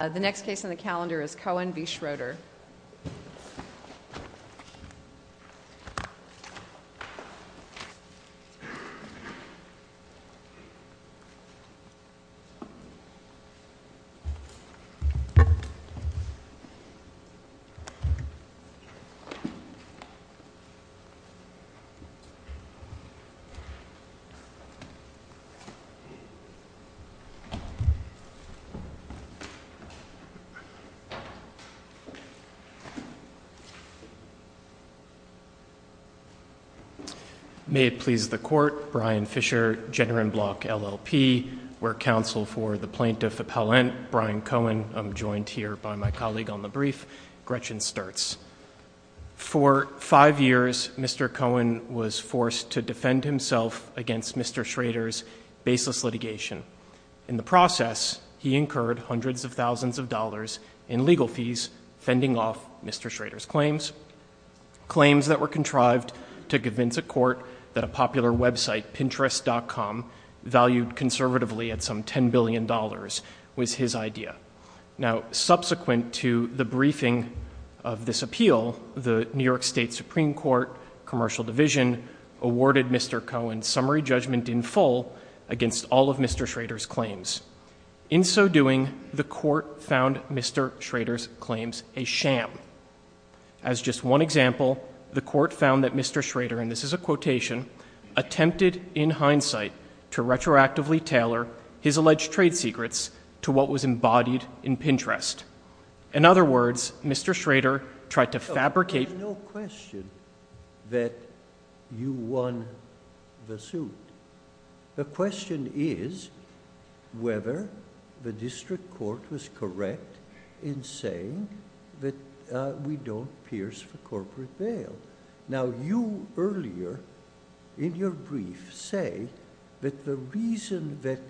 The next case on the calendar is Cohen v. Schroeder. May it please the Court, Brian Fisher, Jenner and Block, LLP. We're counsel for the plaintiff appellant, Brian Cohen. I'm joined here by my colleague on the brief, Gretchen Sturtz. For five years, Mr. Cohen was forced to defend himself against Mr. Schroeder's baseless litigation. In the process, he incurred hundreds of thousands of dollars in legal fees, fending off Mr. Schroeder's claims. Claims that were contrived to convince a court that a popular website, Pinterest.com, valued conservatively at some $10 billion was his idea. Now, subsequent to the briefing of this appeal, the New York State Supreme Court Commercial Division awarded Mr. Cohen summary judgment in full against all of Mr. Schroeder's claims. In so doing, the Court found Mr. Schroeder's claims a sham. As just one example, the Court found that Mr. Schroeder, and this is a quotation, attempted in hindsight to retroactively tailor his alleged trade secrets to what was embodied in Pinterest. In other words, Mr. Schroeder tried to fabricate the suit. There's no question that you won the suit. The question is whether the district court was correct in saying that we don't pierce for corporate bail. Now, you earlier in your brief say that the reason that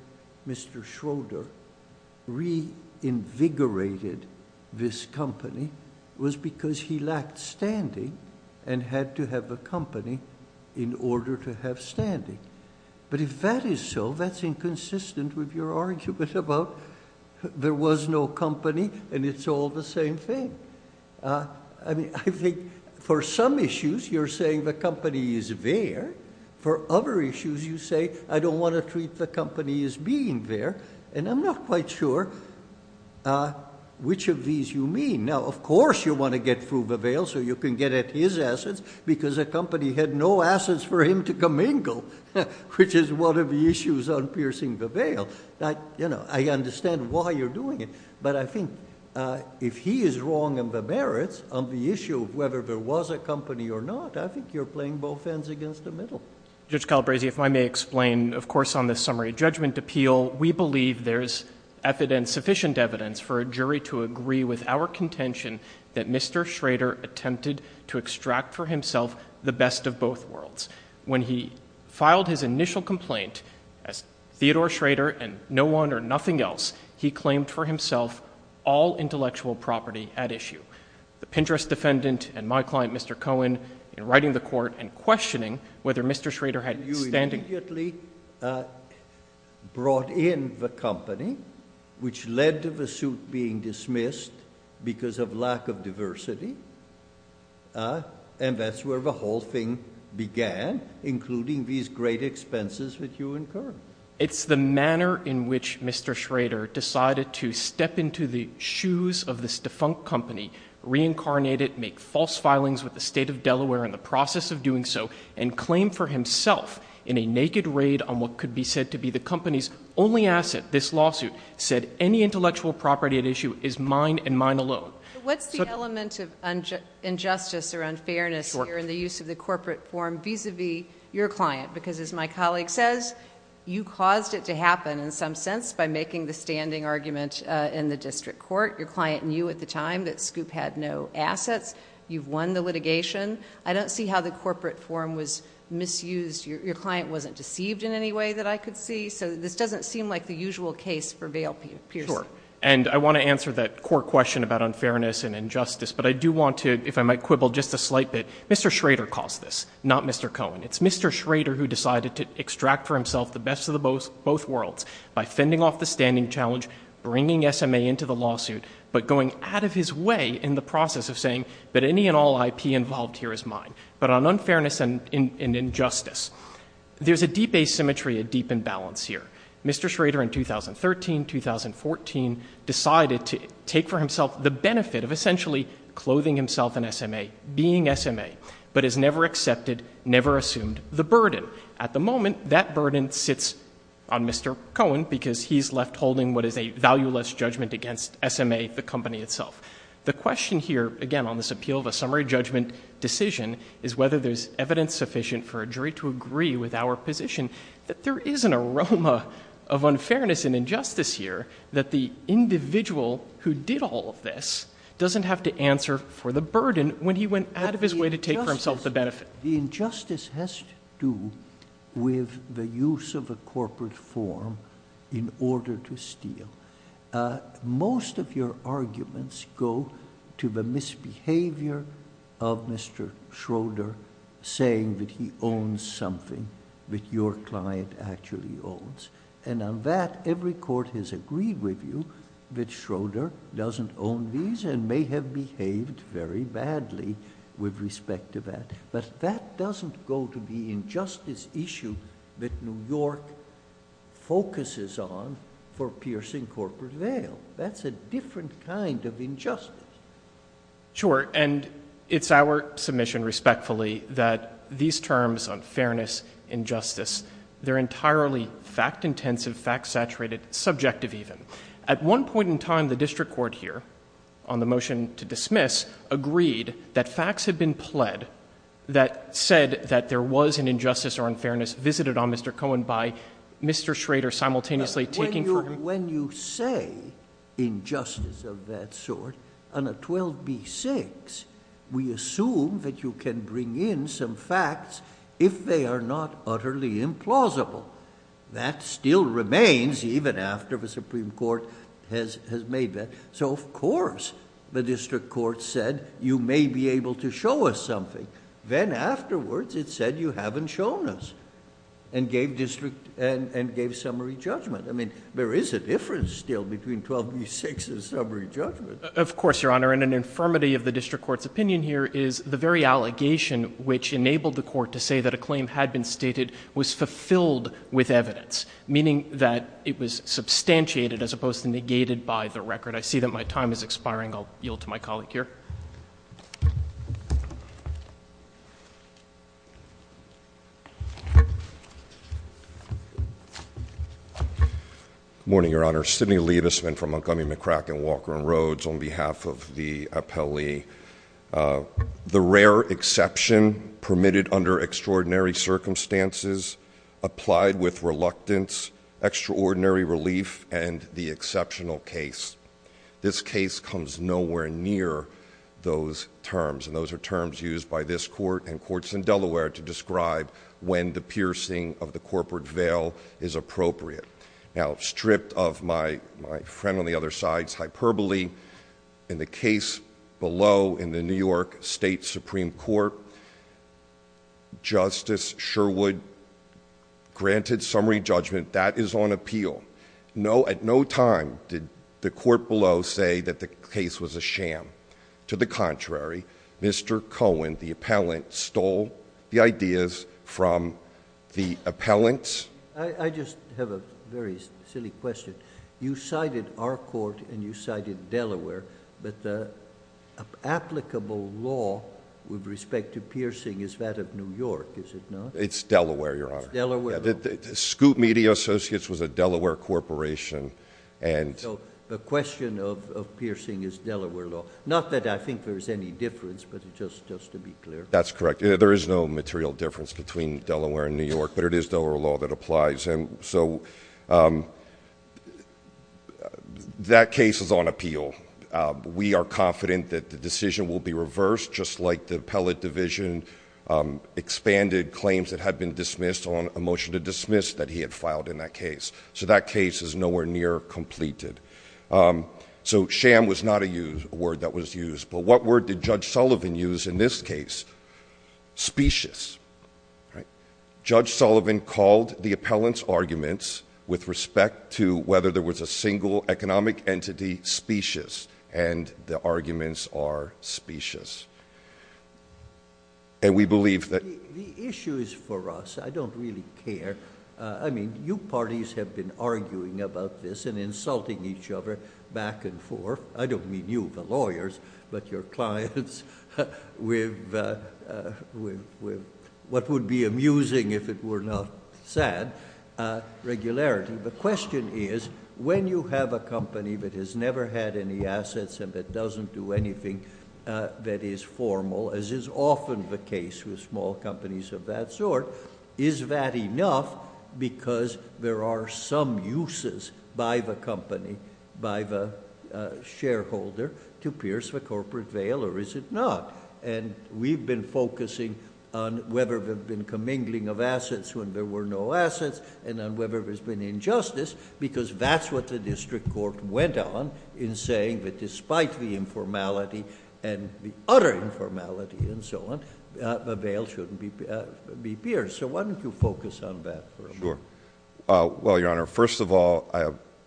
Mr. Schroeder reinvigorated this company was because he lacked standing and had to have a company in order to have standing. But if that is so, that's inconsistent with your argument about there was no company and it's all the same thing. I mean, I think for some issues, you're saying the company is there. For other issues, you say, I don't want to treat the company as being there. And I'm not quite sure which of these you mean. Now, of course you want to get through the bail so you can get at his assets because the company had no assets for him to commingle, which is one of the issues on piercing the bail. I understand why you're doing it. But I think if he is wrong in the merits on the issue of whether there was a company or not, I think you're playing both ends against the middle. Judge Calabresi, if I may explain, of course, on the summary judgment appeal, we believe there's sufficient evidence for a jury to agree with our contention that Mr. Schroeder attempted to extract for himself the best of both worlds. When he filed his initial complaint as Theodore Schroeder and no one or nothing else, he claimed for himself all intellectual property at issue. The Pinterest defendant and my client, Mr. Cohen, in writing the court and questioning whether Mr. Schroeder had standing. You immediately brought in the company, which led to the suit being dismissed because of lack of diversity. And that's where the whole thing began, including these great expenses that you incurred. It's the manner in which Mr. Schroeder decided to step into the shoes of this defunct company, reincarnate it, make false filings with the state of Delaware in the process of doing so, and claim for himself in a naked raid on what could be said to be the company's only asset, this lawsuit, said any intellectual property at issue is mine and mine alone. What's the element of injustice or unfairness here in the use of the corporate form vis-a-vis your client? Because as my colleague says, you caused it to happen in some sense by making the standing argument in the district court. Your client knew at the time that Scoop had no assets. You've won the litigation. I don't see how the corporate form was misused. Your client wasn't deceived in any way that I could see. So this doesn't seem like the usual case for Vail-Pearson. Sure. And I want to answer that court question about unfairness and injustice, but I do want to, if I might quibble just a slight bit, Mr. Schroeder caused this, not Mr. Cohen. It's Mr. Schroeder who decided to extract for himself the best of both worlds by fending off the standing challenge, bringing SMA into the lawsuit, but going out of his way in the process of saying that any and all IP involved here is mine. But on unfairness and injustice, there's a deep asymmetry, a deep imbalance here. Mr. Schroeder in 2013, 2014 decided to take for himself the benefit of essentially clothing himself in SMA, being SMA, but has never accepted, never assumed the burden. At the end, Mr. Cohen, because he's left holding what is a valueless judgment against SMA, the company itself. The question here, again, on this appeal of a summary judgment decision is whether there's evidence sufficient for a jury to agree with our position that there is an aroma of unfairness and injustice here, that the individual who did all of this doesn't have to answer for the burden when he went out of his way to take for himself the benefit. The injustice has to do with the use of a corporate form in order to steal. Most of your arguments go to the misbehavior of Mr. Schroeder saying that he owns something that your client actually owns. On that, every court has agreed with you that Schroeder doesn't own these and may have behaved very badly with respect to that, but that doesn't go to the injustice issue that New York focuses on for piercing corporate veil. That's a different kind of injustice. Sure, and it's our submission, respectfully, that these terms, unfairness, injustice, they're entirely fact-intensive, fact-saturated, subjective even. At one point in time, the motion to dismiss agreed that facts had been pled that said that there was an injustice or unfairness visited on Mr. Cohen by Mr. Schroeder simultaneously taking for him. When you say injustice of that sort on a 12b-6, we assume that you can bring in some facts if they are not utterly implausible. That still remains even after the Supreme Court has made that. Of course, the district court said, you may be able to show us something. Then afterwards, it said, you haven't shown us and gave summary judgment. There is a difference still between 12b-6 and summary judgment. Of course, Your Honor. An infirmity of the district court's opinion here is the very allegation which enabled the court to say that a claim had been stated was fulfilled with evidence, meaning that it was substantiated as opposed to negated by the record. I see that my time is expiring. I'll yield to my colleague here. Good morning, Your Honor. Sidney Liebesman from Montgomery, McCracken, Walker, and Rhodes on behalf of the appellee. The rare exception permitted under extraordinary circumstances applied with reluctance, extraordinary relief, and the exceptional case. This case comes nowhere near those terms. Those are terms used by this court and courts in Delaware to describe when the piercing of the corporate veil is appropriate. Stripped of my friend on the other side's hyperbole, in the case below in the New York State Supreme Court, Justice Sherwood granted summary judgment. That is on appeal. At no time did the court below say that the case was a sham. To the contrary, Mr. Cohen, the appellant, stole the ideas from the appellant. I just have a very silly question. You cited our court and you cited Delaware, but the applicable law with respect to piercing is that of New York, is it not? It's Delaware, Your Honor. It's Delaware. Scoop Media Associates was a Delaware corporation. The question of piercing is Delaware law. Not that I think there's any difference, but just to be clear. That's correct. There is no material difference between Delaware and New York, but it is Delaware law that applies. That case is on appeal. We are confident that the decision was made on appeal. We are confident that the decision will be reversed, just like the appellate division expanded claims that had been dismissed on a motion to dismiss that he had filed in that case. That case is nowhere near completed. Sham was not a word that was used, but what word did Judge Sullivan use in this case? Specious. Judge Sullivan called the appellant's arguments with respect to whether there was a single economic entity, specious, and the arguments are specious. And we believe that... The issue is for us. I don't really care. I mean, you parties have been arguing about this and insulting each other back and forth. I don't mean you, the lawyers, but your clients with what would be amusing if it were not sad, regularity. The question is, when you have a company that has never had any assets and that doesn't do anything that is formal, as is often the case with small companies of that sort, is that enough? Because there are some uses by the company, by the shareholder, to pierce the corporate veil, or is it not? And we've been focusing on whether there's been commingling of assets when there were no assets, and on whether there's been injustice, because that's what the district court went on in saying that despite the informality and the utter informality and so on, the veil shouldn't be pierced. So why don't you focus on that for a moment? Sure. Well, Your Honor, first of all,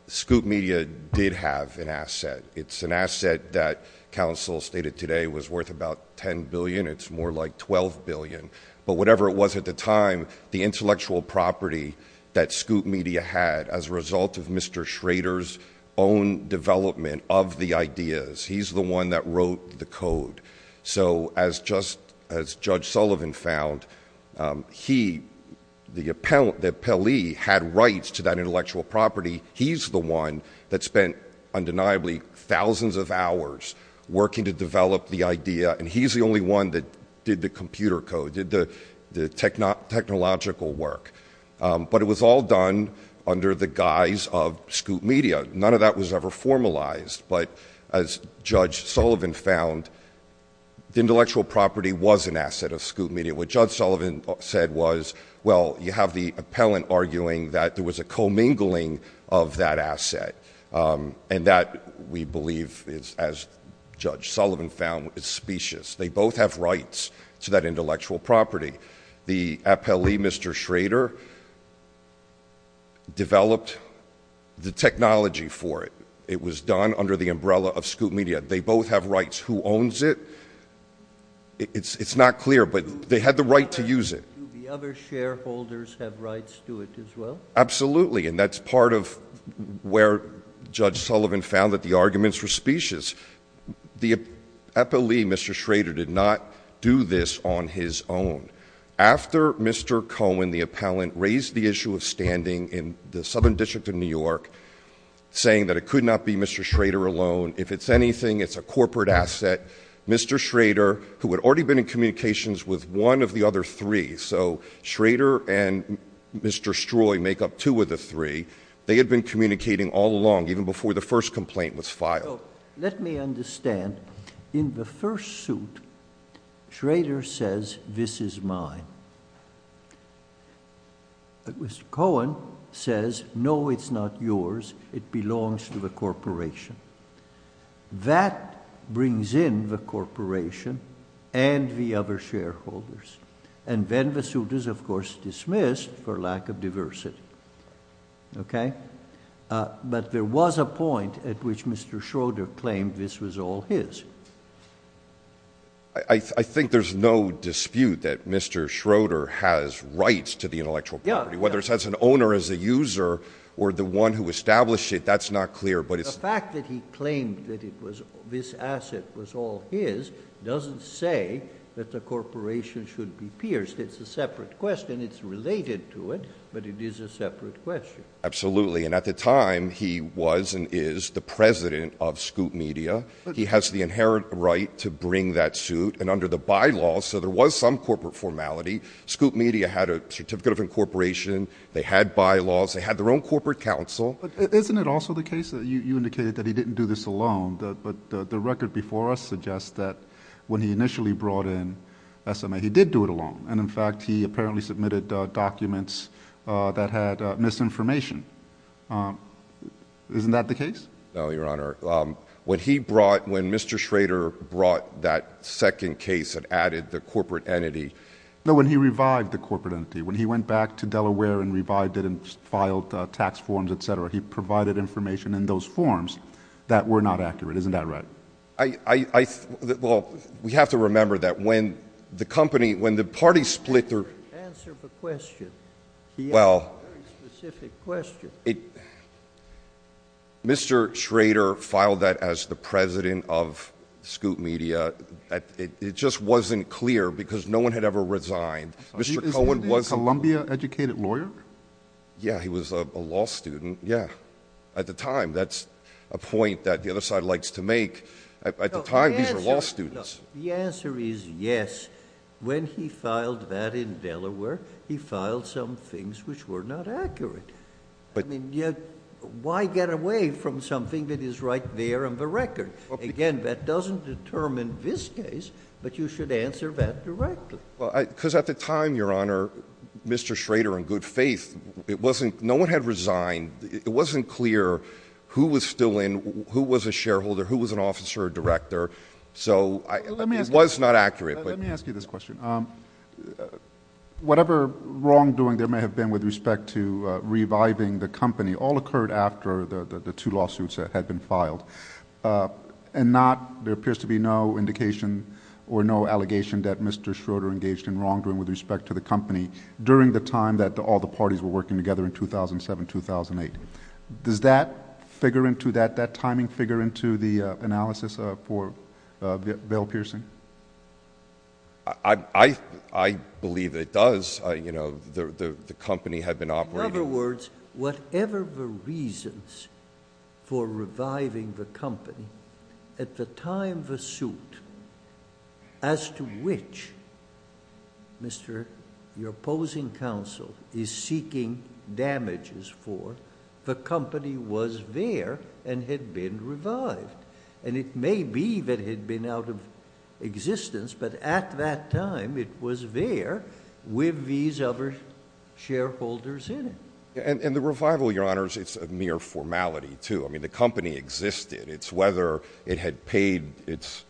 Scoop Media did have an asset. It's an asset that counsel stated today was worth about $10 billion. It's more like $12 billion. But whatever it was at the time, the intellectual property that Scoop Media had as a result of Mr. Schrader's own development of the ideas, he's the one that wrote the code. So as Judge Sullivan found, he, the appellee, had rights to that intellectual property. He's the one that spent undeniably thousands of hours working to develop the idea, and he's the only one that did the technological work. But it was all done under the guise of Scoop Media. None of that was ever formalized. But as Judge Sullivan found, the intellectual property was an asset of Scoop Media. What Judge Sullivan said was, well, you have the appellant arguing that there was a commingling of that asset. And that, we believe, as Judge Sullivan found, is specious. They both have rights to that intellectual property. The appellee, Mr. Schrader, developed the technology for it. It was done under the umbrella of Scoop Media. They both have rights. Who owns it? It's not clear, but they had the right to use it. Do the other shareholders have rights to it as well? Absolutely. And that's part of where Judge Sullivan found that the arguments were specious. The appellee, Mr. Schrader, did not do this on his own. After Mr. Cohen, the appellant, raised the issue of standing in the Southern District of New York, saying that it could not be Mr. Schrader alone. If it's anything, it's a corporate asset. Mr. Schrader, who had already been in communications with one of the other three, so Schrader and Mr. Stroi make up two of the three, they had been communicating all along, even before the first complaint was filed. Let me understand. In the first suit, Schrader says, this is mine. But Mr. Cohen says, no, it's not yours. It belongs to the corporation. That brings in the corporation and the other shareholders. And then the suit is, of course, dismissed for lack of diversity. But there was a point at which Mr. Schrader claimed this was all his. I think there's no dispute that Mr. Schrader has rights to the intellectual property. Whether it's as an owner, as a user, or the one who established it, that's not clear. The fact that he claimed that this asset was all his doesn't say that the corporation should be pierced. It's a separate question. It's related to it, but it is a separate question. Absolutely. And at the time, he was and is the president of Scoop Media. He has the inherent right to bring that suit. And under the bylaws, so there was some corporate formality. Scoop Media had a certificate of incorporation. They had bylaws. They had their own corporate counsel. But isn't it also the case that you indicated that he didn't do this alone? But the record before us suggests that when he initially brought in SMA, he did do it alone. And in fact, he apparently submitted documents that had misinformation. Isn't that the case? No, Your Honor. When he brought, when Mr. Schrader brought that second case and added the corporate entity. No, when he revived the corporate entity, when he went back to Delaware and revived it and filed tax forms, etc. He provided information in those forms that were not accurate. Isn't that right? I, I, well, we have to remember that when the company, when the party split their. Answer the question. Well. Specific question. Mr. Schrader filed that as the president of Scoop Media. It just wasn't clear because no one had ever resigned. Mr. Cohen was a Columbia educated lawyer. Yeah. He was a law student. Yeah. At the time. That's a point that the other side likes to make at the time. These are law students. The answer is yes. When he filed that in Delaware, he filed some things which were not accurate. But I mean, yeah. Why get away from something that is right there on the record? Again, that doesn't determine this case. But you should answer that directly. Because at the time, Your Honor, Mr. Schrader, in good faith, it wasn't, no one had resigned. It wasn't clear who was still in, who was a shareholder, who was an officer, a director. So, it was not accurate. Let me ask you this question. Whatever wrongdoing there may have been with respect to reviving the company all occurred after the two lawsuits that had been filed. And not, there appears to be no indication or no allegation that Mr. Schrader engaged in wrongdoing with respect to the company during the time that all the parties were working together in 2007-2008. Does that figure into that, that timing figure into the analysis for Bill Pierson? I believe it does. You know, the company had been operating... Whatever the reasons for reviving the company, at the time of the suit, as to which Mr.... your opposing counsel is seeking damages for, the company was there and had been revived. And it may be that it had been out of existence, but at that time, it was there with these other shareholders in it. And the revival, Your Honors, it's a mere formality, too. I mean, the company existed. It's whether it had paid its...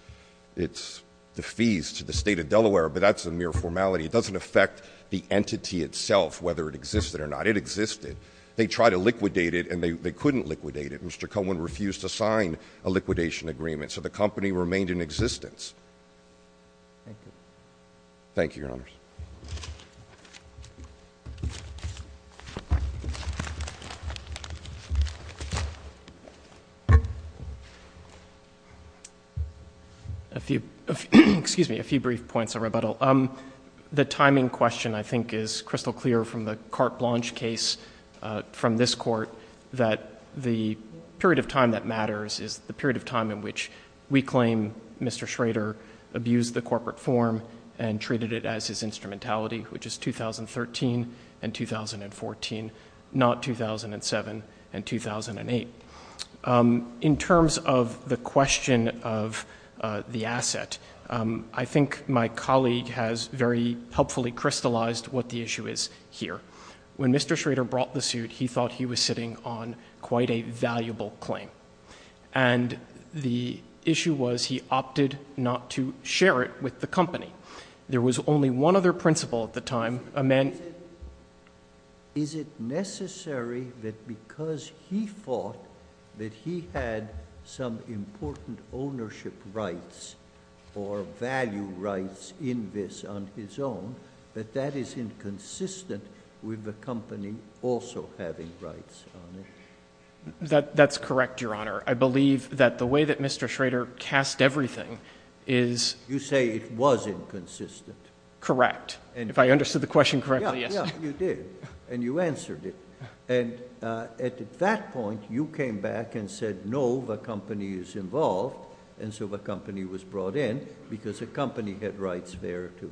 the fees to the State of Delaware, but that's a mere formality. It doesn't affect the entity itself, whether it existed or not. It existed. They tried to liquidate it and they couldn't liquidate it. Mr. Cohen refused to sign a liquidation agreement. So, the company remained in existence. Thank you. Thank you, Your Honors. A few... excuse me, a few brief points of rebuttal. The timing question, I think, is crystal clear from the Carte Blanche case from this Court, that the period of time that matters is the period of time in which we claim Mr. Schrader abused the corporate form and treated it as his instrumentality, which is 2013 and 2014, not 2007 and 2008. In terms of the question of the asset, I think my colleague has very helpfully crystallized what the issue is here. When Mr. Schrader brought the suit, he thought he was sitting on quite a valuable claim. And the issue was he opted not to share it with the company. There was only one other principal at the time, a man... Is it necessary that because he thought that he had some important ownership rights or value rights in this on his own, that that is inconsistent with the company also having rights on it? That's correct, Your Honor. I believe that the way that Mr. Schrader cast everything is... You say it was inconsistent. Correct. If I understood the question correctly, yes. Yeah, yeah, you did. And you answered it. And at that point, you came back and said, no, the company is involved, and so the company was brought in because the company had rights there, too.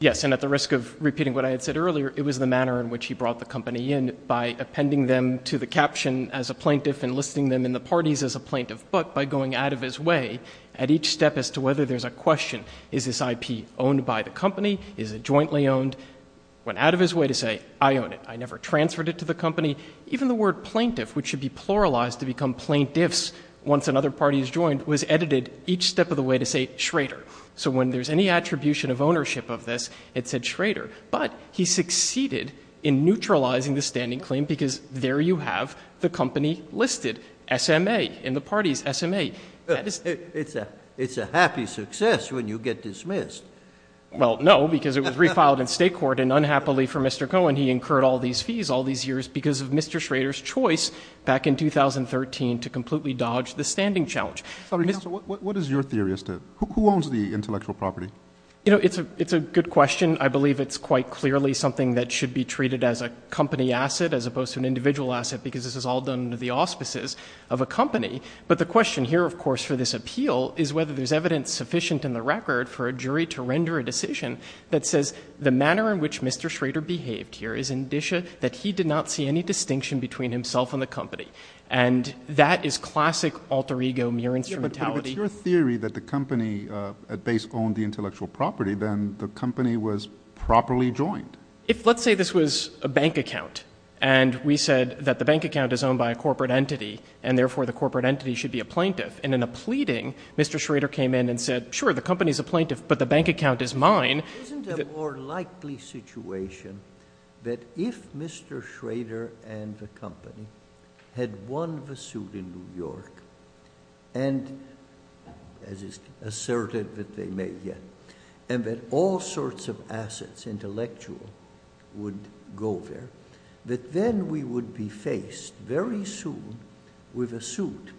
Yes, and at the risk of repeating what I had said earlier, it was the manner in which he brought the company in by appending them to the caption as a plaintiff and listing them in the parties as a plaintiff, but by going out of his way at each step as to whether there's a question, is this IP owned by the company? Is it jointly owned? Went out of his way to say, I own it. I never transferred it to the company. Even the word plaintiff, which should be pluralized to become plaintiffs once another party is joined, was edited each step of the way to say Schrader. So when there's any attribution of ownership of this, it said Schrader. But he succeeded in neutralizing the standing claim because there you have the company listed, SMA, in the parties, SMA. It's a happy success when you get dismissed. Well, no, because it was refiled in state court, and unhappily for Mr. Cohen, he incurred all these fees all these years because of Mr. Schrader's choice back in 2013 to completely dodge the standing challenge. What is your theory as to who owns the intellectual property? You know, it's a good question. I believe it's quite clearly something that should be treated as a company asset as opposed to an individual asset because this is all done under the auspices of a company. But the question here, of course, for this appeal is whether there's evidence sufficient in the record for a jury to render a decision that says the manner in which Mr. Schrader behaved here is indicia that he did not see any distinction between himself and the company. And that is classic alter ego mere instrumentality. Well, if it's your theory that the company at base owned the intellectual property, then the company was properly joined. If let's say this was a bank account, and we said that the bank account is owned by a corporate entity, and therefore the corporate entity should be a plaintiff, and in a pleading, Mr. Schrader came in and said, sure, the company is a plaintiff, but the bank account is mine. Isn't it a more likely situation that if Mr. Schrader and the company had won the suit in New York, and as is asserted that they may yet, and that all sorts of assets, intellectual, would go there, that then we would be faced very soon with a suit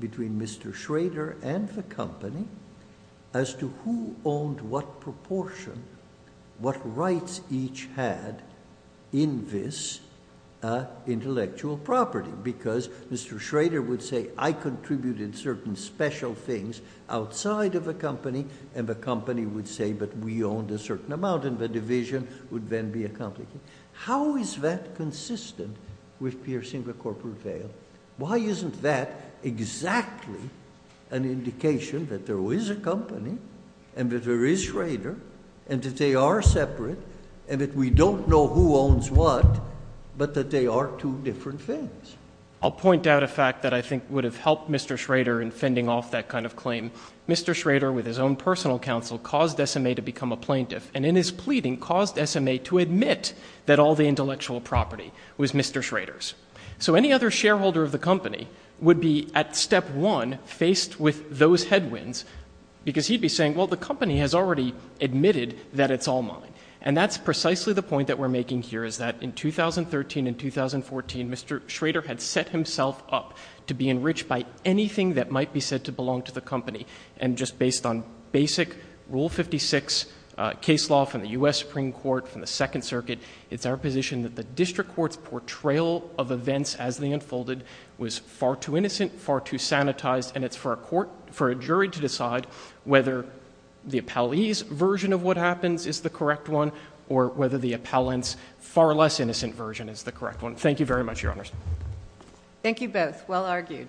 between Mr. Schrader and the company as to who owned what proportion, what rights each had in this intellectual property. Because Mr. Schrader would say, I contributed certain special things outside of the company, and the company would say, but we owned a certain amount, and the division would then be accomplished. How is that consistent with piercing the corporate veil? Why isn't that exactly an indication that there is a company, and that there is Schrader, and that they are separate, and that we don't know who owns what, but that they are two different things? I'll point out a fact that I think would have helped Mr. Schrader in fending off that kind of claim. Mr. Schrader, with his own personal counsel, caused SMA to become a plaintiff, and in his pleading caused SMA to admit that all the intellectual property was Mr. Schrader's. So any other shareholder of the company would be, at step one, faced with those headwinds, because he'd be saying, well, the company has already admitted that it's all mine. And that's precisely the point that we're making here, is that in 2013 and 2014, Mr. Schrader had set himself up to be enriched by anything that might be said to belong to the company. And just based on basic Rule 56 case law from the U.S. Supreme Court, from the Second Circuit, it's our position that the district court's portrayal of events as they unfolded was far too innocent, far too sanitized, and it's for a jury to decide whether the appellee's version of what happens is the correct one, or whether the appellant's far less innocent version is the correct one. Thank you very much, Your Honors. Thank you both. Well argued.